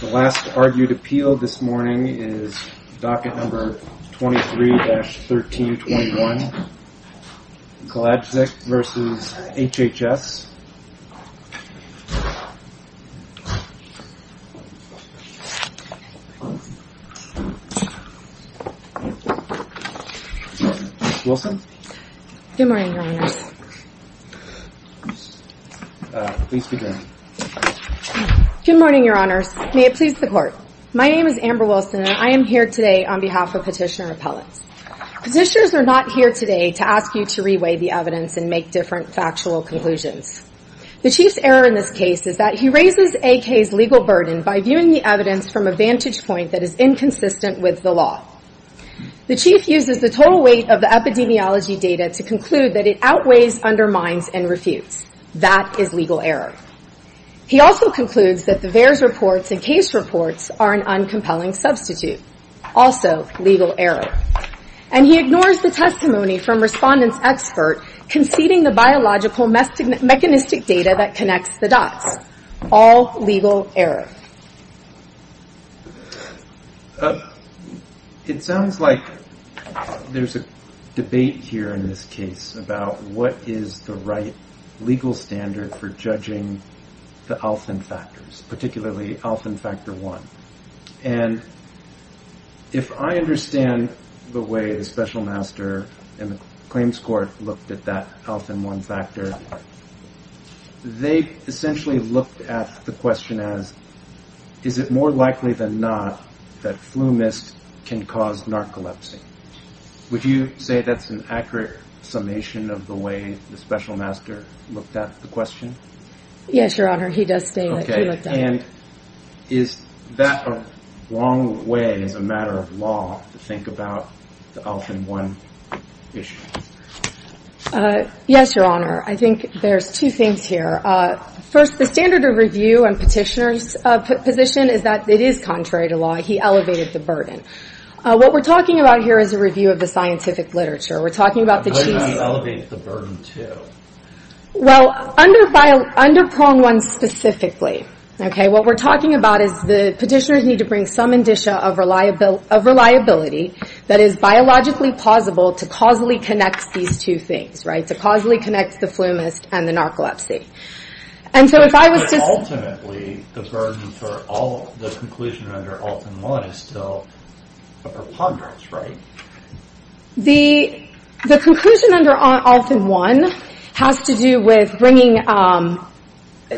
The last argued appeal this morning is docket number 23-1321, Kalajdzic v. HHS. Ms. Wilson? Good morning, Your Honors. May it please the Court. My name is Amber Wilson and I am here today on behalf of Petitioner Appellants. Petitioners are not here today to ask you to reweigh the evidence and make different factual conclusions. The Chief's error in this case is that he raises AK's legal burden by viewing the evidence from a vantage point that is inconsistent with the law. The Chief uses the total weight of the epidemiology data to conclude that it outweighs, undermines, and refutes. That is legal error. He also concludes that the VAERS reports and case reports are an uncompelling substitute. Also, legal error. And he ignores the testimony from Respondent's expert conceding the biological mechanistic data that connects the dots. All legal error. It sounds like there's a debate here in this case about what is the right legal standard for judging the ALFN factors, particularly ALFN factor 1. And if I understand the way the Special Master and the Claims Court looked at that ALFN 1 factor, they essentially looked at the question as, is it more likely than not that flu mist can cause narcolepsy? Would you say that's an accurate summation of the way the Special Master looked at the question? Yes, Your Honor. He does state that he looked at it. Okay. And is that a wrong way as a matter of law to think about the ALFN 1 issue? Yes, Your Honor. I think there's two things here. First, the standard of review and Petitioner's position is that it is contrary to law. He elevated the burden. What we're talking about here is a review of the scientific literature. We're talking about the chiefs... And where do you elevate the burden to? Well, under Prong 1 specifically, okay, what we're talking about is the Petitioner's need to bring some indicia of reliability that is biologically plausible to causally connect these two things, right? To causally connect the flu mist and the narcolepsy. And so if I was to... But ultimately, the burden for the conclusion under ALFN 1 is still a preponderance, right? The conclusion under ALFN 1 has to do with bringing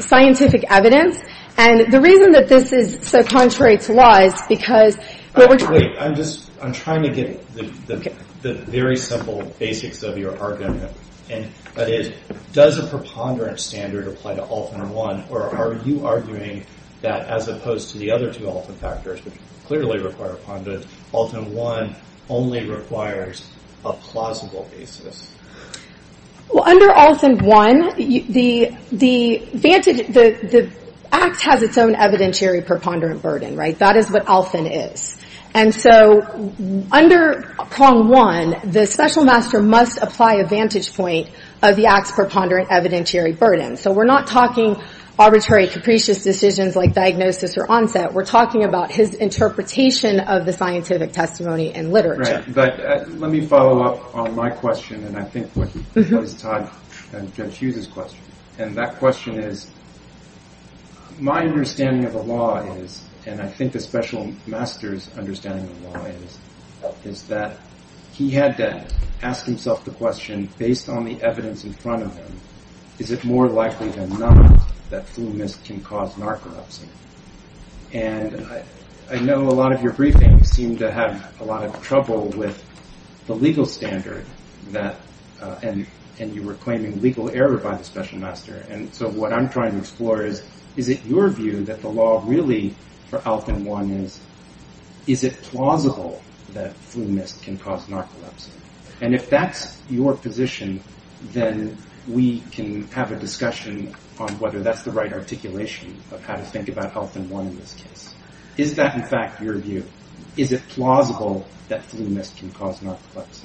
scientific evidence. And the reason that this is so contrary to law is because what we're talking about... Wait. I'm just... I'm trying to get the very simple basics of your argument. And that is, does a preponderance standard apply to ALFN 1? Or are you arguing that as opposed to the other two ALFN factors, which clearly require a preponderance, ALFN 1 only requires a plausible basis? Well, under ALFN 1, the act has its own evidentiary preponderant burden, right? That is what ALFN is. And so under Prong 1, the special master must apply a vantage point of the act's preponderant evidentiary burden. So we're not talking arbitrary, capricious decisions like diagnosis or onset. We're talking about his interpretation of the scientific testimony and literature. Right. But let me follow up on my question and I think what is tied to Judge Hughes's question. And that question is, my understanding of the law is, and I think the special master's understanding of the law is, is that he had to ask himself the question, based on the evidence in front of him, is it more likely than not that flu mist can cause narcolepsy? And I know a lot of your briefings seem to have a lot of trouble with the legal standard that, and you were claiming legal error by the special master. And so what I'm trying to explore is, is it your view that the law really for ALFN 1 is, is it plausible that flu mist can cause narcolepsy? And if that's your position, then we can have a discussion on whether that's the right articulation of how to think about ALFN 1 in this case. Is that in fact your view? Is it plausible that flu mist can cause narcolepsy?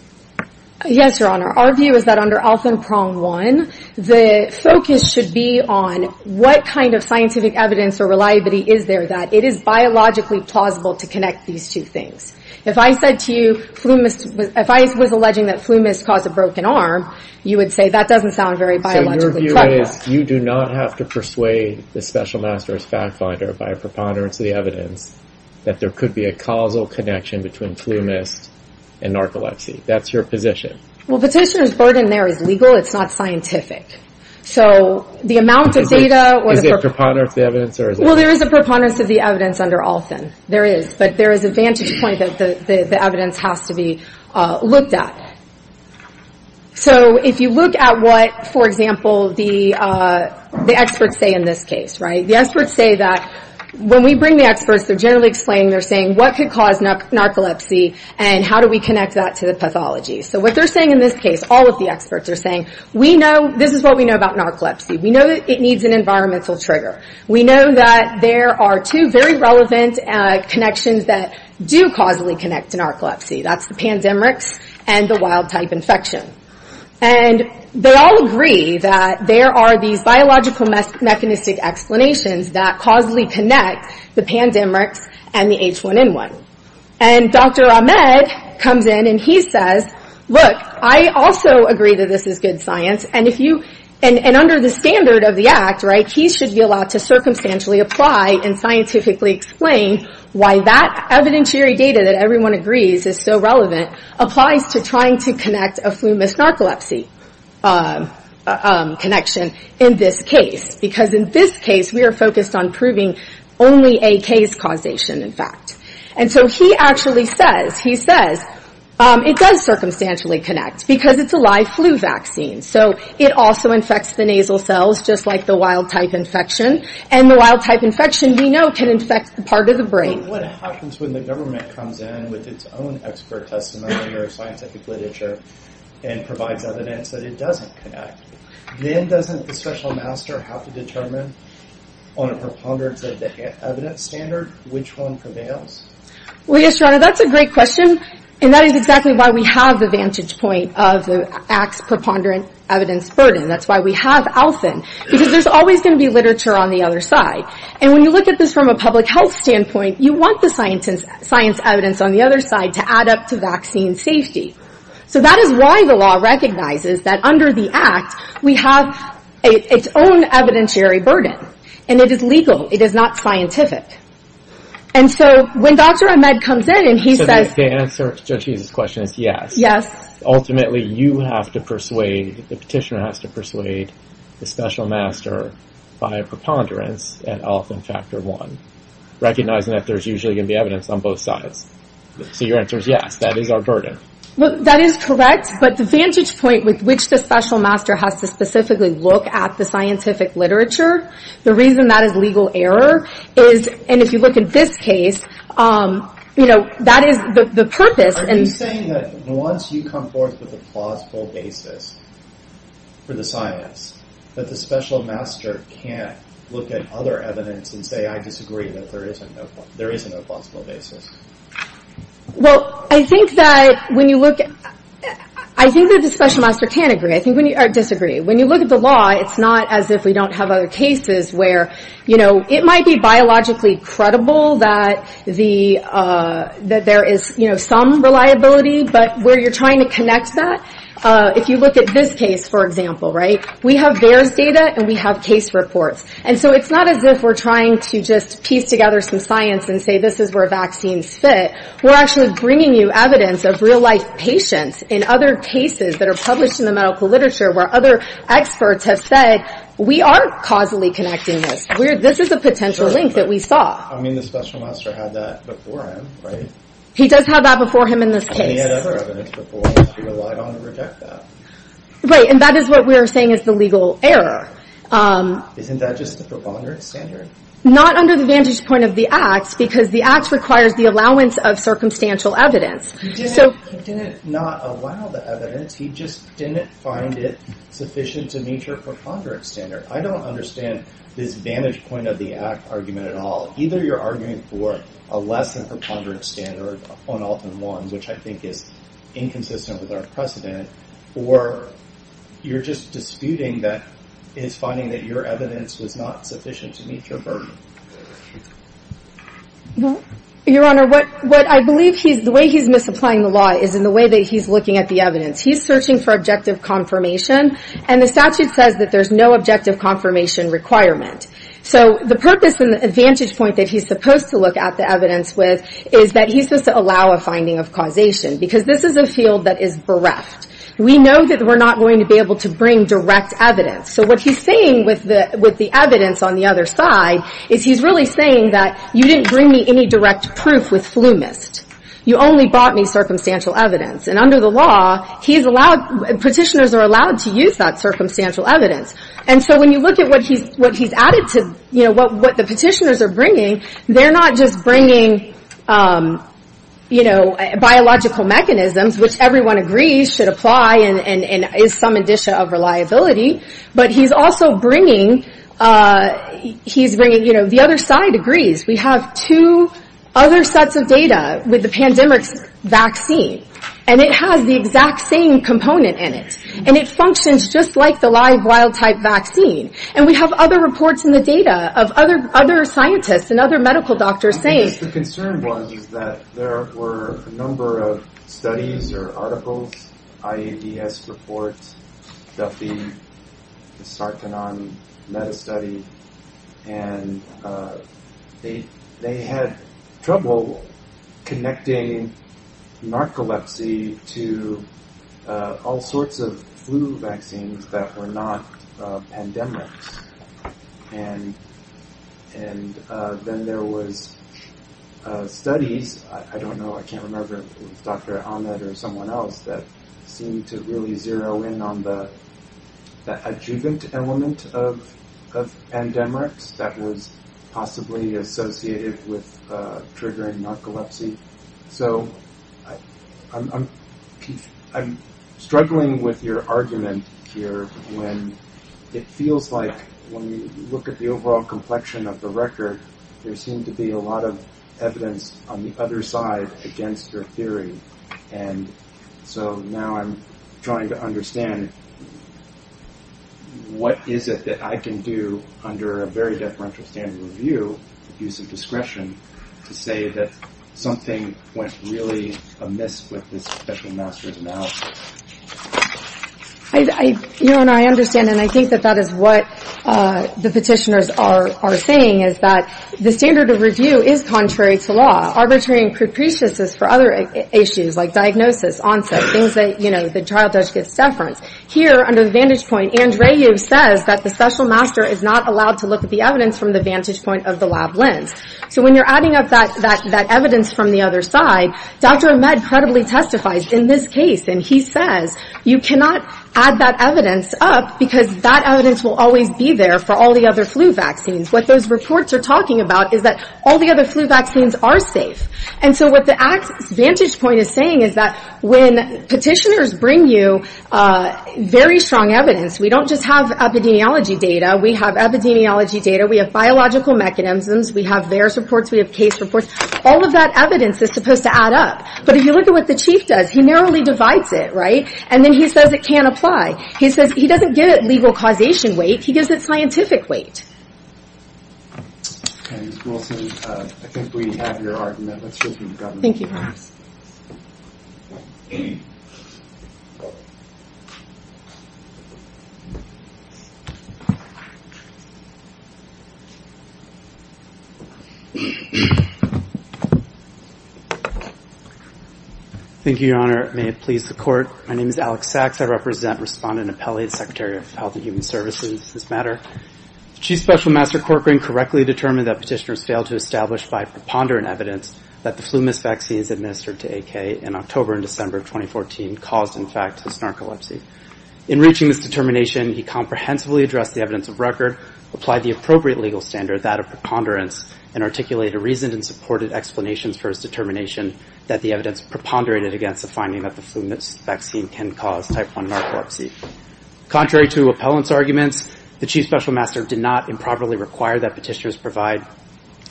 Yes, Your Honor. Our view is that under ALFN prong 1, the focus should be on what kind of scientific evidence or reliability is there that it is biologically plausible to connect these two things. If I said to you, if I was alleging that flu mist caused a broken arm, you would say, that doesn't sound very biologically plausible. So your view is, you do not have to persuade the special master's fact finder by a preponderance of the evidence that there could be a causal connection between flu mist and narcolepsy. That's your position. Well, petitioner's burden there is legal, it's not scientific. So the amount of data or the... Is it preponderance of the evidence or is it... Well, there is a preponderance of the evidence under ALFN. There is. But there is a vantage point that the evidence has to be looked at. So if you look at what, for example, the experts say in this case, right? The experts say that when we bring the experts, they're generally explaining, they're saying, what could cause narcolepsy and how do we connect that to the pathology? So what they're saying in this case, all of the experts are saying, we know, this is what we know about narcolepsy. We know that it needs an environmental trigger. We know that there are two very relevant connections that do causally connect to narcolepsy. That's the pandemics and the wild type infection. And they all agree that there are these biological mechanistic explanations that causally connect the pandemics and the H1N1. And Dr. Ahmed comes in and he says, look, I also agree that this is good science and under the standard of the act, he should be allowed to circumstantially apply and scientifically explain why that evidentiary data that everyone agrees is so relevant applies to trying to connect a flu-missed narcolepsy connection in this case. Because in this case, we are focused on proving only a case causation, in fact. And so he actually says, he says, it does circumstantially connect because it's a live flu vaccine. So it also can infect the part of the brain. What happens when the government comes in with its own expert testimony or scientific literature and provides evidence that it doesn't connect? Then doesn't the special master have to determine on a preponderance of the evidence standard which one prevails? Well, yes, your honor, that's a great question. And that is exactly why we have the vantage point of the acts preponderance evidence burden. That's why we have Allison. Because there's always going to be literature on the other side. And when you look at this from a public health standpoint, you want the science evidence on the other side to add up to vaccine safety. So that is why the law recognizes that under the act, we have its own evidentiary burden. And it is legal. It is not scientific. And so when Dr. Ahmed comes in and he says... So the answer to Judge Hughes' question is yes. Yes. Ultimately, you have to persuade, the petitioner has to persuade the special master by a preponderance and often factor one. Recognizing that there's usually going to be evidence on both sides. So your answer is yes, that is our burden. That is correct. But the vantage point with which the special master has to specifically look at the scientific literature, the reason that is legal error is, and if you look at this case, that is the purpose. Are you saying that once you come forth with a plausible basis for the science, that the special master can't look at other evidence and say, I disagree, that there is a no plausible basis? Well, I think that when you look at... I think that the special master can't agree, or disagree. When you look at the law, it's not as if we don't have other cases where, you know, it is some reliability, but where you're trying to connect that, if you look at this case, for example, right, we have VAERS data and we have case reports. And so it's not as if we're trying to just piece together some science and say, this is where vaccines fit. We're actually bringing you evidence of real life patients in other cases that are published in the medical literature, where other experts have said, we aren't causally connecting this. This is a potential link that we saw. I mean, the special master had that before him, right? He does have that before him in this case. And he had other evidence before him, so he relied on to reject that. Right. And that is what we're saying is the legal error. Isn't that just the preponderance standard? Not under the vantage point of the act, because the act requires the allowance of circumstantial evidence. He didn't not allow the evidence. He just didn't find it sufficient to meet your preponderance standard. I don't understand this vantage point of the act argument at all. Either you're arguing for a less than preponderance standard on all than one, which I think is inconsistent with our precedent, or you're just disputing that is finding that your evidence was not sufficient to meet your burden. Your Honor, what I believe he's, the way he's misapplying the law is in the way that he's looking at the evidence. He's searching for objective confirmation, and the statute says that there's no objective confirmation requirement. So the purpose and the vantage point that he's supposed to look at the evidence with is that he's supposed to allow a finding of causation, because this is a field that is bereft. We know that we're not going to be able to bring direct evidence. So what he's saying with the evidence on the other side is he's really saying that you didn't bring me any direct proof with flumist. You only bought me circumstantial evidence. And under the law, he's allowed, petitioners are allowed to use that circumstantial evidence. And so when you look at what he's added to, you know, what the petitioners are bringing, they're not just bringing, you know, biological mechanisms, which everyone agrees should apply and is some addition of reliability. But he's also bringing, he's bringing, you know, the other side agrees. We have two other sets of data with the pandemic's vaccine, and it has the exact same component in it. And it functions just like the live wild type vaccine. And we have other reports in the data of other scientists and other medical doctors saying the concern was, is that there were a number of studies or articles, IADS reports, Duffy, the Sarkhanan meta study, and they, they had trouble connecting narcolepsy to all sorts of flu vaccines that were not pandemics. And, and then there was studies, I don't know, I can't remember, Dr. Ahmed or someone else that seemed to really zero in on the adjuvant element of, of pandemics that was possibly associated with triggering narcolepsy. So I'm, I'm struggling with your argument here when it feels like when you look at the overall complexion of the record, there seemed to be a lot of evidence on the other side against your theory. And so now I'm trying to understand what is it that I can do under a very deferential standard of review, use of discretion, to say that something went really amiss with this special master's analysis? I, I, you know, and I understand, and I think that that is what the petitioners are saying is that the standard of review is contrary to law, arbitrary and capricious for other issues, like diagnosis, onset, things that, you know, the trial judge gets deference. Here under the vantage point, Andrew says that the special master is not allowed to look at the evidence from the vantage point of the lab lens. So when you're adding up that, that, that evidence from the other side, Dr. Ahmed credibly testifies in this case, and he says you cannot add that evidence up because that evidence will always be there for all the other flu vaccines. What those reports are talking about is that all the other flu vaccines are safe. And so what the vantage point is saying is that when petitioners bring you very strong evidence, we don't just have epidemiology data, we have epidemiology data, we have biological mechanisms, we have VAERS reports, we have case reports, all of that evidence is supposed to add up. But if you look at what the chief does, he narrowly divides it, right, and then he says it can't apply. He says he doesn't give it legal causation weight, he gives it scientific weight. Ms. Wilson, I think we have your argument, let's just move to government. Thank you, Your Honor. Thank you, Your Honor. May it please the court. My name is Alex Sachs, I represent Respondent Apelli, the Secretary of Health and Human Services, this matter. Chief Special Master Court Green correctly determined that petitioners failed to establish by preponderant evidence that the flu-miss vaccine is administered to AK in October and December of 2014, caused, in fact, his narcolepsy. In reaching this determination, he comprehensively addressed the evidence of record, applied the appropriate legal standard, that of preponderance, and articulated reasoned and supported explanations for his determination that the evidence preponderated against the finding that the flu-miss vaccine can cause type 1 narcolepsy. Contrary to appellant's arguments, the Chief Special Master did not improperly require that petitioners provide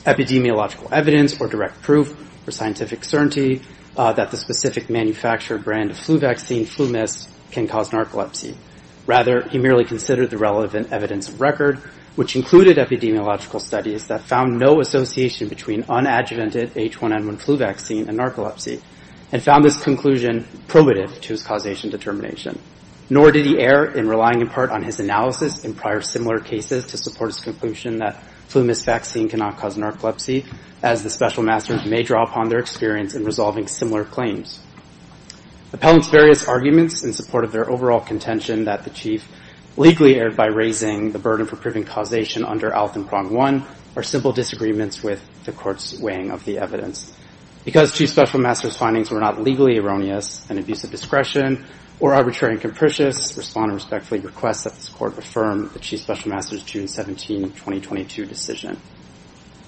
epidemiological evidence or direct proof for scientific certainty that the specific manufacturer brand of flu vaccine, flu-miss, can cause narcolepsy. Rather, he merely considered the relevant evidence of record, which included epidemiological studies that found no association between unadjuvanted H1N1 flu vaccine and narcolepsy, and found this conclusion probative to his causation determination. Nor did he err in relying, in part, on his analysis in prior similar cases to support his conclusion that flu-miss vaccine cannot cause narcolepsy, as the Special Masters may draw upon their experience in resolving similar claims. Appellant's various arguments in support of their overall contention that the Chief legally erred by raising the burden for proving causation under ALF and Prong 1 are simple disagreements with the Court's weighing of the evidence. Because Chief Special Master's findings were not legally erroneous in abuse of discretion or arbitrary and capricious, Respondent respectfully requests that this Court affirm the Chief Special Master's June 17, 2022 decision.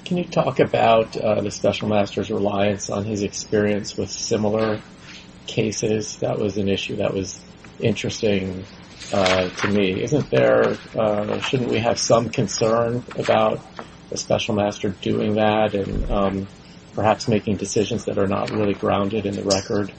Can you talk about the Special Master's reliance on his experience with similar cases? That was an issue that was interesting to me. Isn't there – shouldn't we have some concern about the Special Master doing that and perhaps making decisions that are not really grounded in the record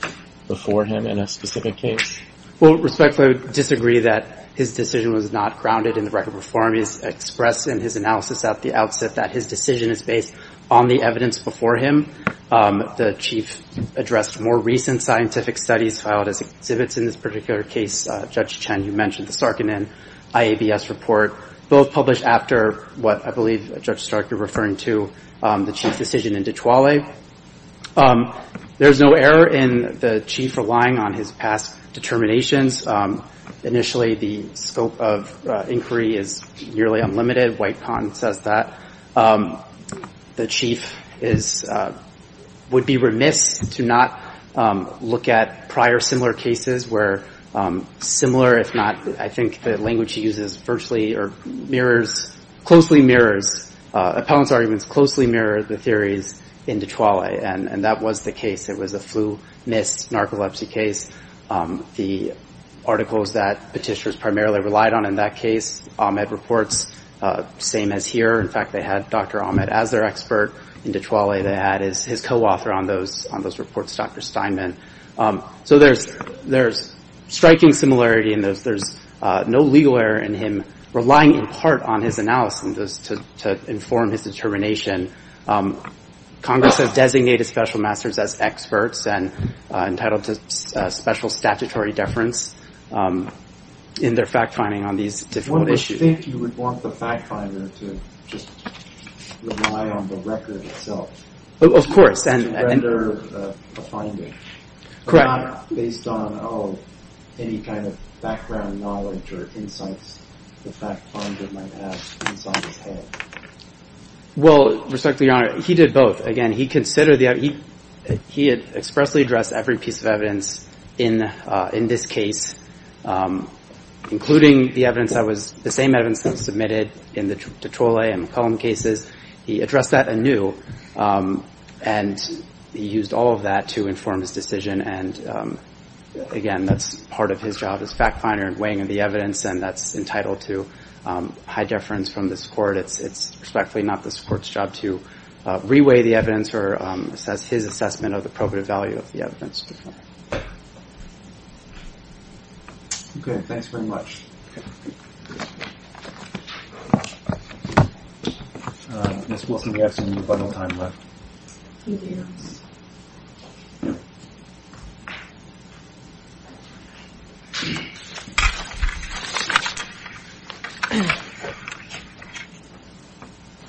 before him in a specific case? Well, respectfully, I would disagree that his decision was not grounded in the record before him. He has expressed in his analysis at the outset that his decision is based on the evidence before him. The Chief addressed more recent scientific studies filed as exhibits in this particular case. Judge Chen, you mentioned the Sarkinen IABS report, both published after what I believe, Judge Stark, you're referring to the Chief's decision in Di Chuale. There's no error in the Chief relying on his past determinations. Initially, the scope of inquiry is nearly unlimited. White Pond says that. The Chief is – would be remiss to not look at prior similar cases where similar, if not – or mirrors – closely mirrors – appellant's arguments closely mirror the theories in Di Chuale. And that was the case. It was a flu, mists, narcolepsy case. The articles that petitioners primarily relied on in that case, Ahmed reports, same as here. In fact, they had Dr. Ahmed as their expert in Di Chuale. They had his co-author on those reports, Dr. Steinman. So there's striking similarity in those. There's no legal error in him relying in part on his analysis to inform his determination. Congress has designated special masters as experts and entitled to special statutory deference in their fact-finding on these difficult issues. One would think you would want the fact-finder to just rely on the record itself. Of course. To render a finding. Correct. But not based on any kind of background knowledge or insights the fact-finder might have inside his head. Well, respect to Your Honor, he did both. Again, he considered the – he had expressly addressed every piece of evidence in this case, including the evidence that was – the same evidence that was submitted in the Di Chuale and McCollum cases. He addressed that anew. And he used all of that to inform his decision. And, again, that's part of his job as fact-finder, weighing in the evidence, and that's entitled to high deference from this court. It's respectfully not this court's job to re-weigh the evidence or assess his assessment of the probative value of the evidence. Okay. Thanks very much. Ms. Wilson, we have some rebuttal time left.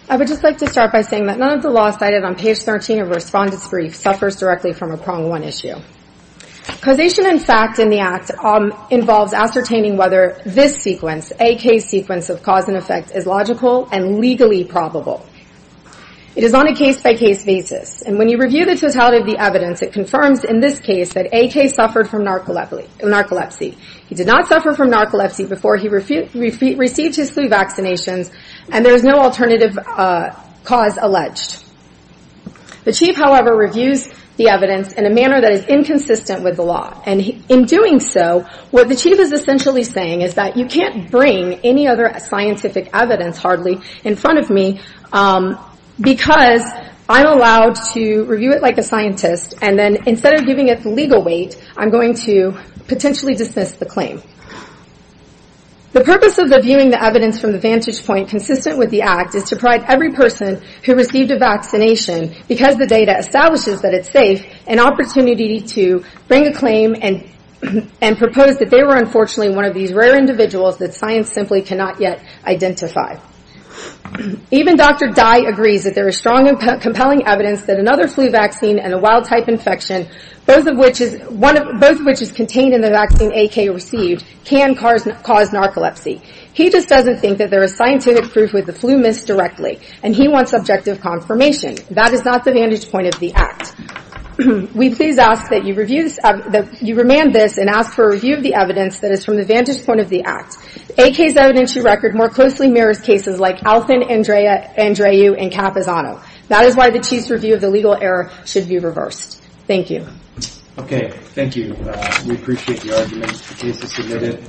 I would just like to start by saying that none of the law cited on page 13 of Respondent's Brief suffers directly from a Prong 1 issue. Causation and fact in the act involves ascertaining whether this sequence, AK's sequence of cause and effect, is logical and legally probable. It is on a case-by-case basis, and when you review the totality of the evidence, it confirms in this case that AK suffered from narcolepsy. He did not suffer from narcolepsy before he received his flu vaccinations, and there is no alternative cause alleged. The chief, however, reviews the evidence in a manner that is inconsistent with the law, and in doing so, what the chief is essentially saying is that you can't bring any other scientific evidence, hardly, in front of me because I'm allowed to review it like a scientist, and then instead of giving it the legal weight, I'm going to potentially dismiss the claim. The purpose of viewing the evidence from the vantage point consistent with the act is to provide every person who received a vaccination, because the data establishes that it's safe, an opportunity to bring a claim and propose that they were unfortunately one of these rare individuals that science simply cannot yet identify. Even Dr. Dai agrees that there is strong and compelling evidence that another flu vaccine and a wild-type infection, both of which is contained in the vaccine AK received, can cause narcolepsy. He just doesn't think that there is scientific proof that the flu missed directly, and he wants objective confirmation. That is not the vantage point of the act. We please ask that you remand this and ask for a review of the evidence that is from the vantage point of the act. AK's evidence-to-record more closely mirrors cases like Alfin, Andreou, and Capizano. That is why the chief's review of the legal error should be reversed. Thank you. Okay, thank you. We appreciate the argument. The case is submitted.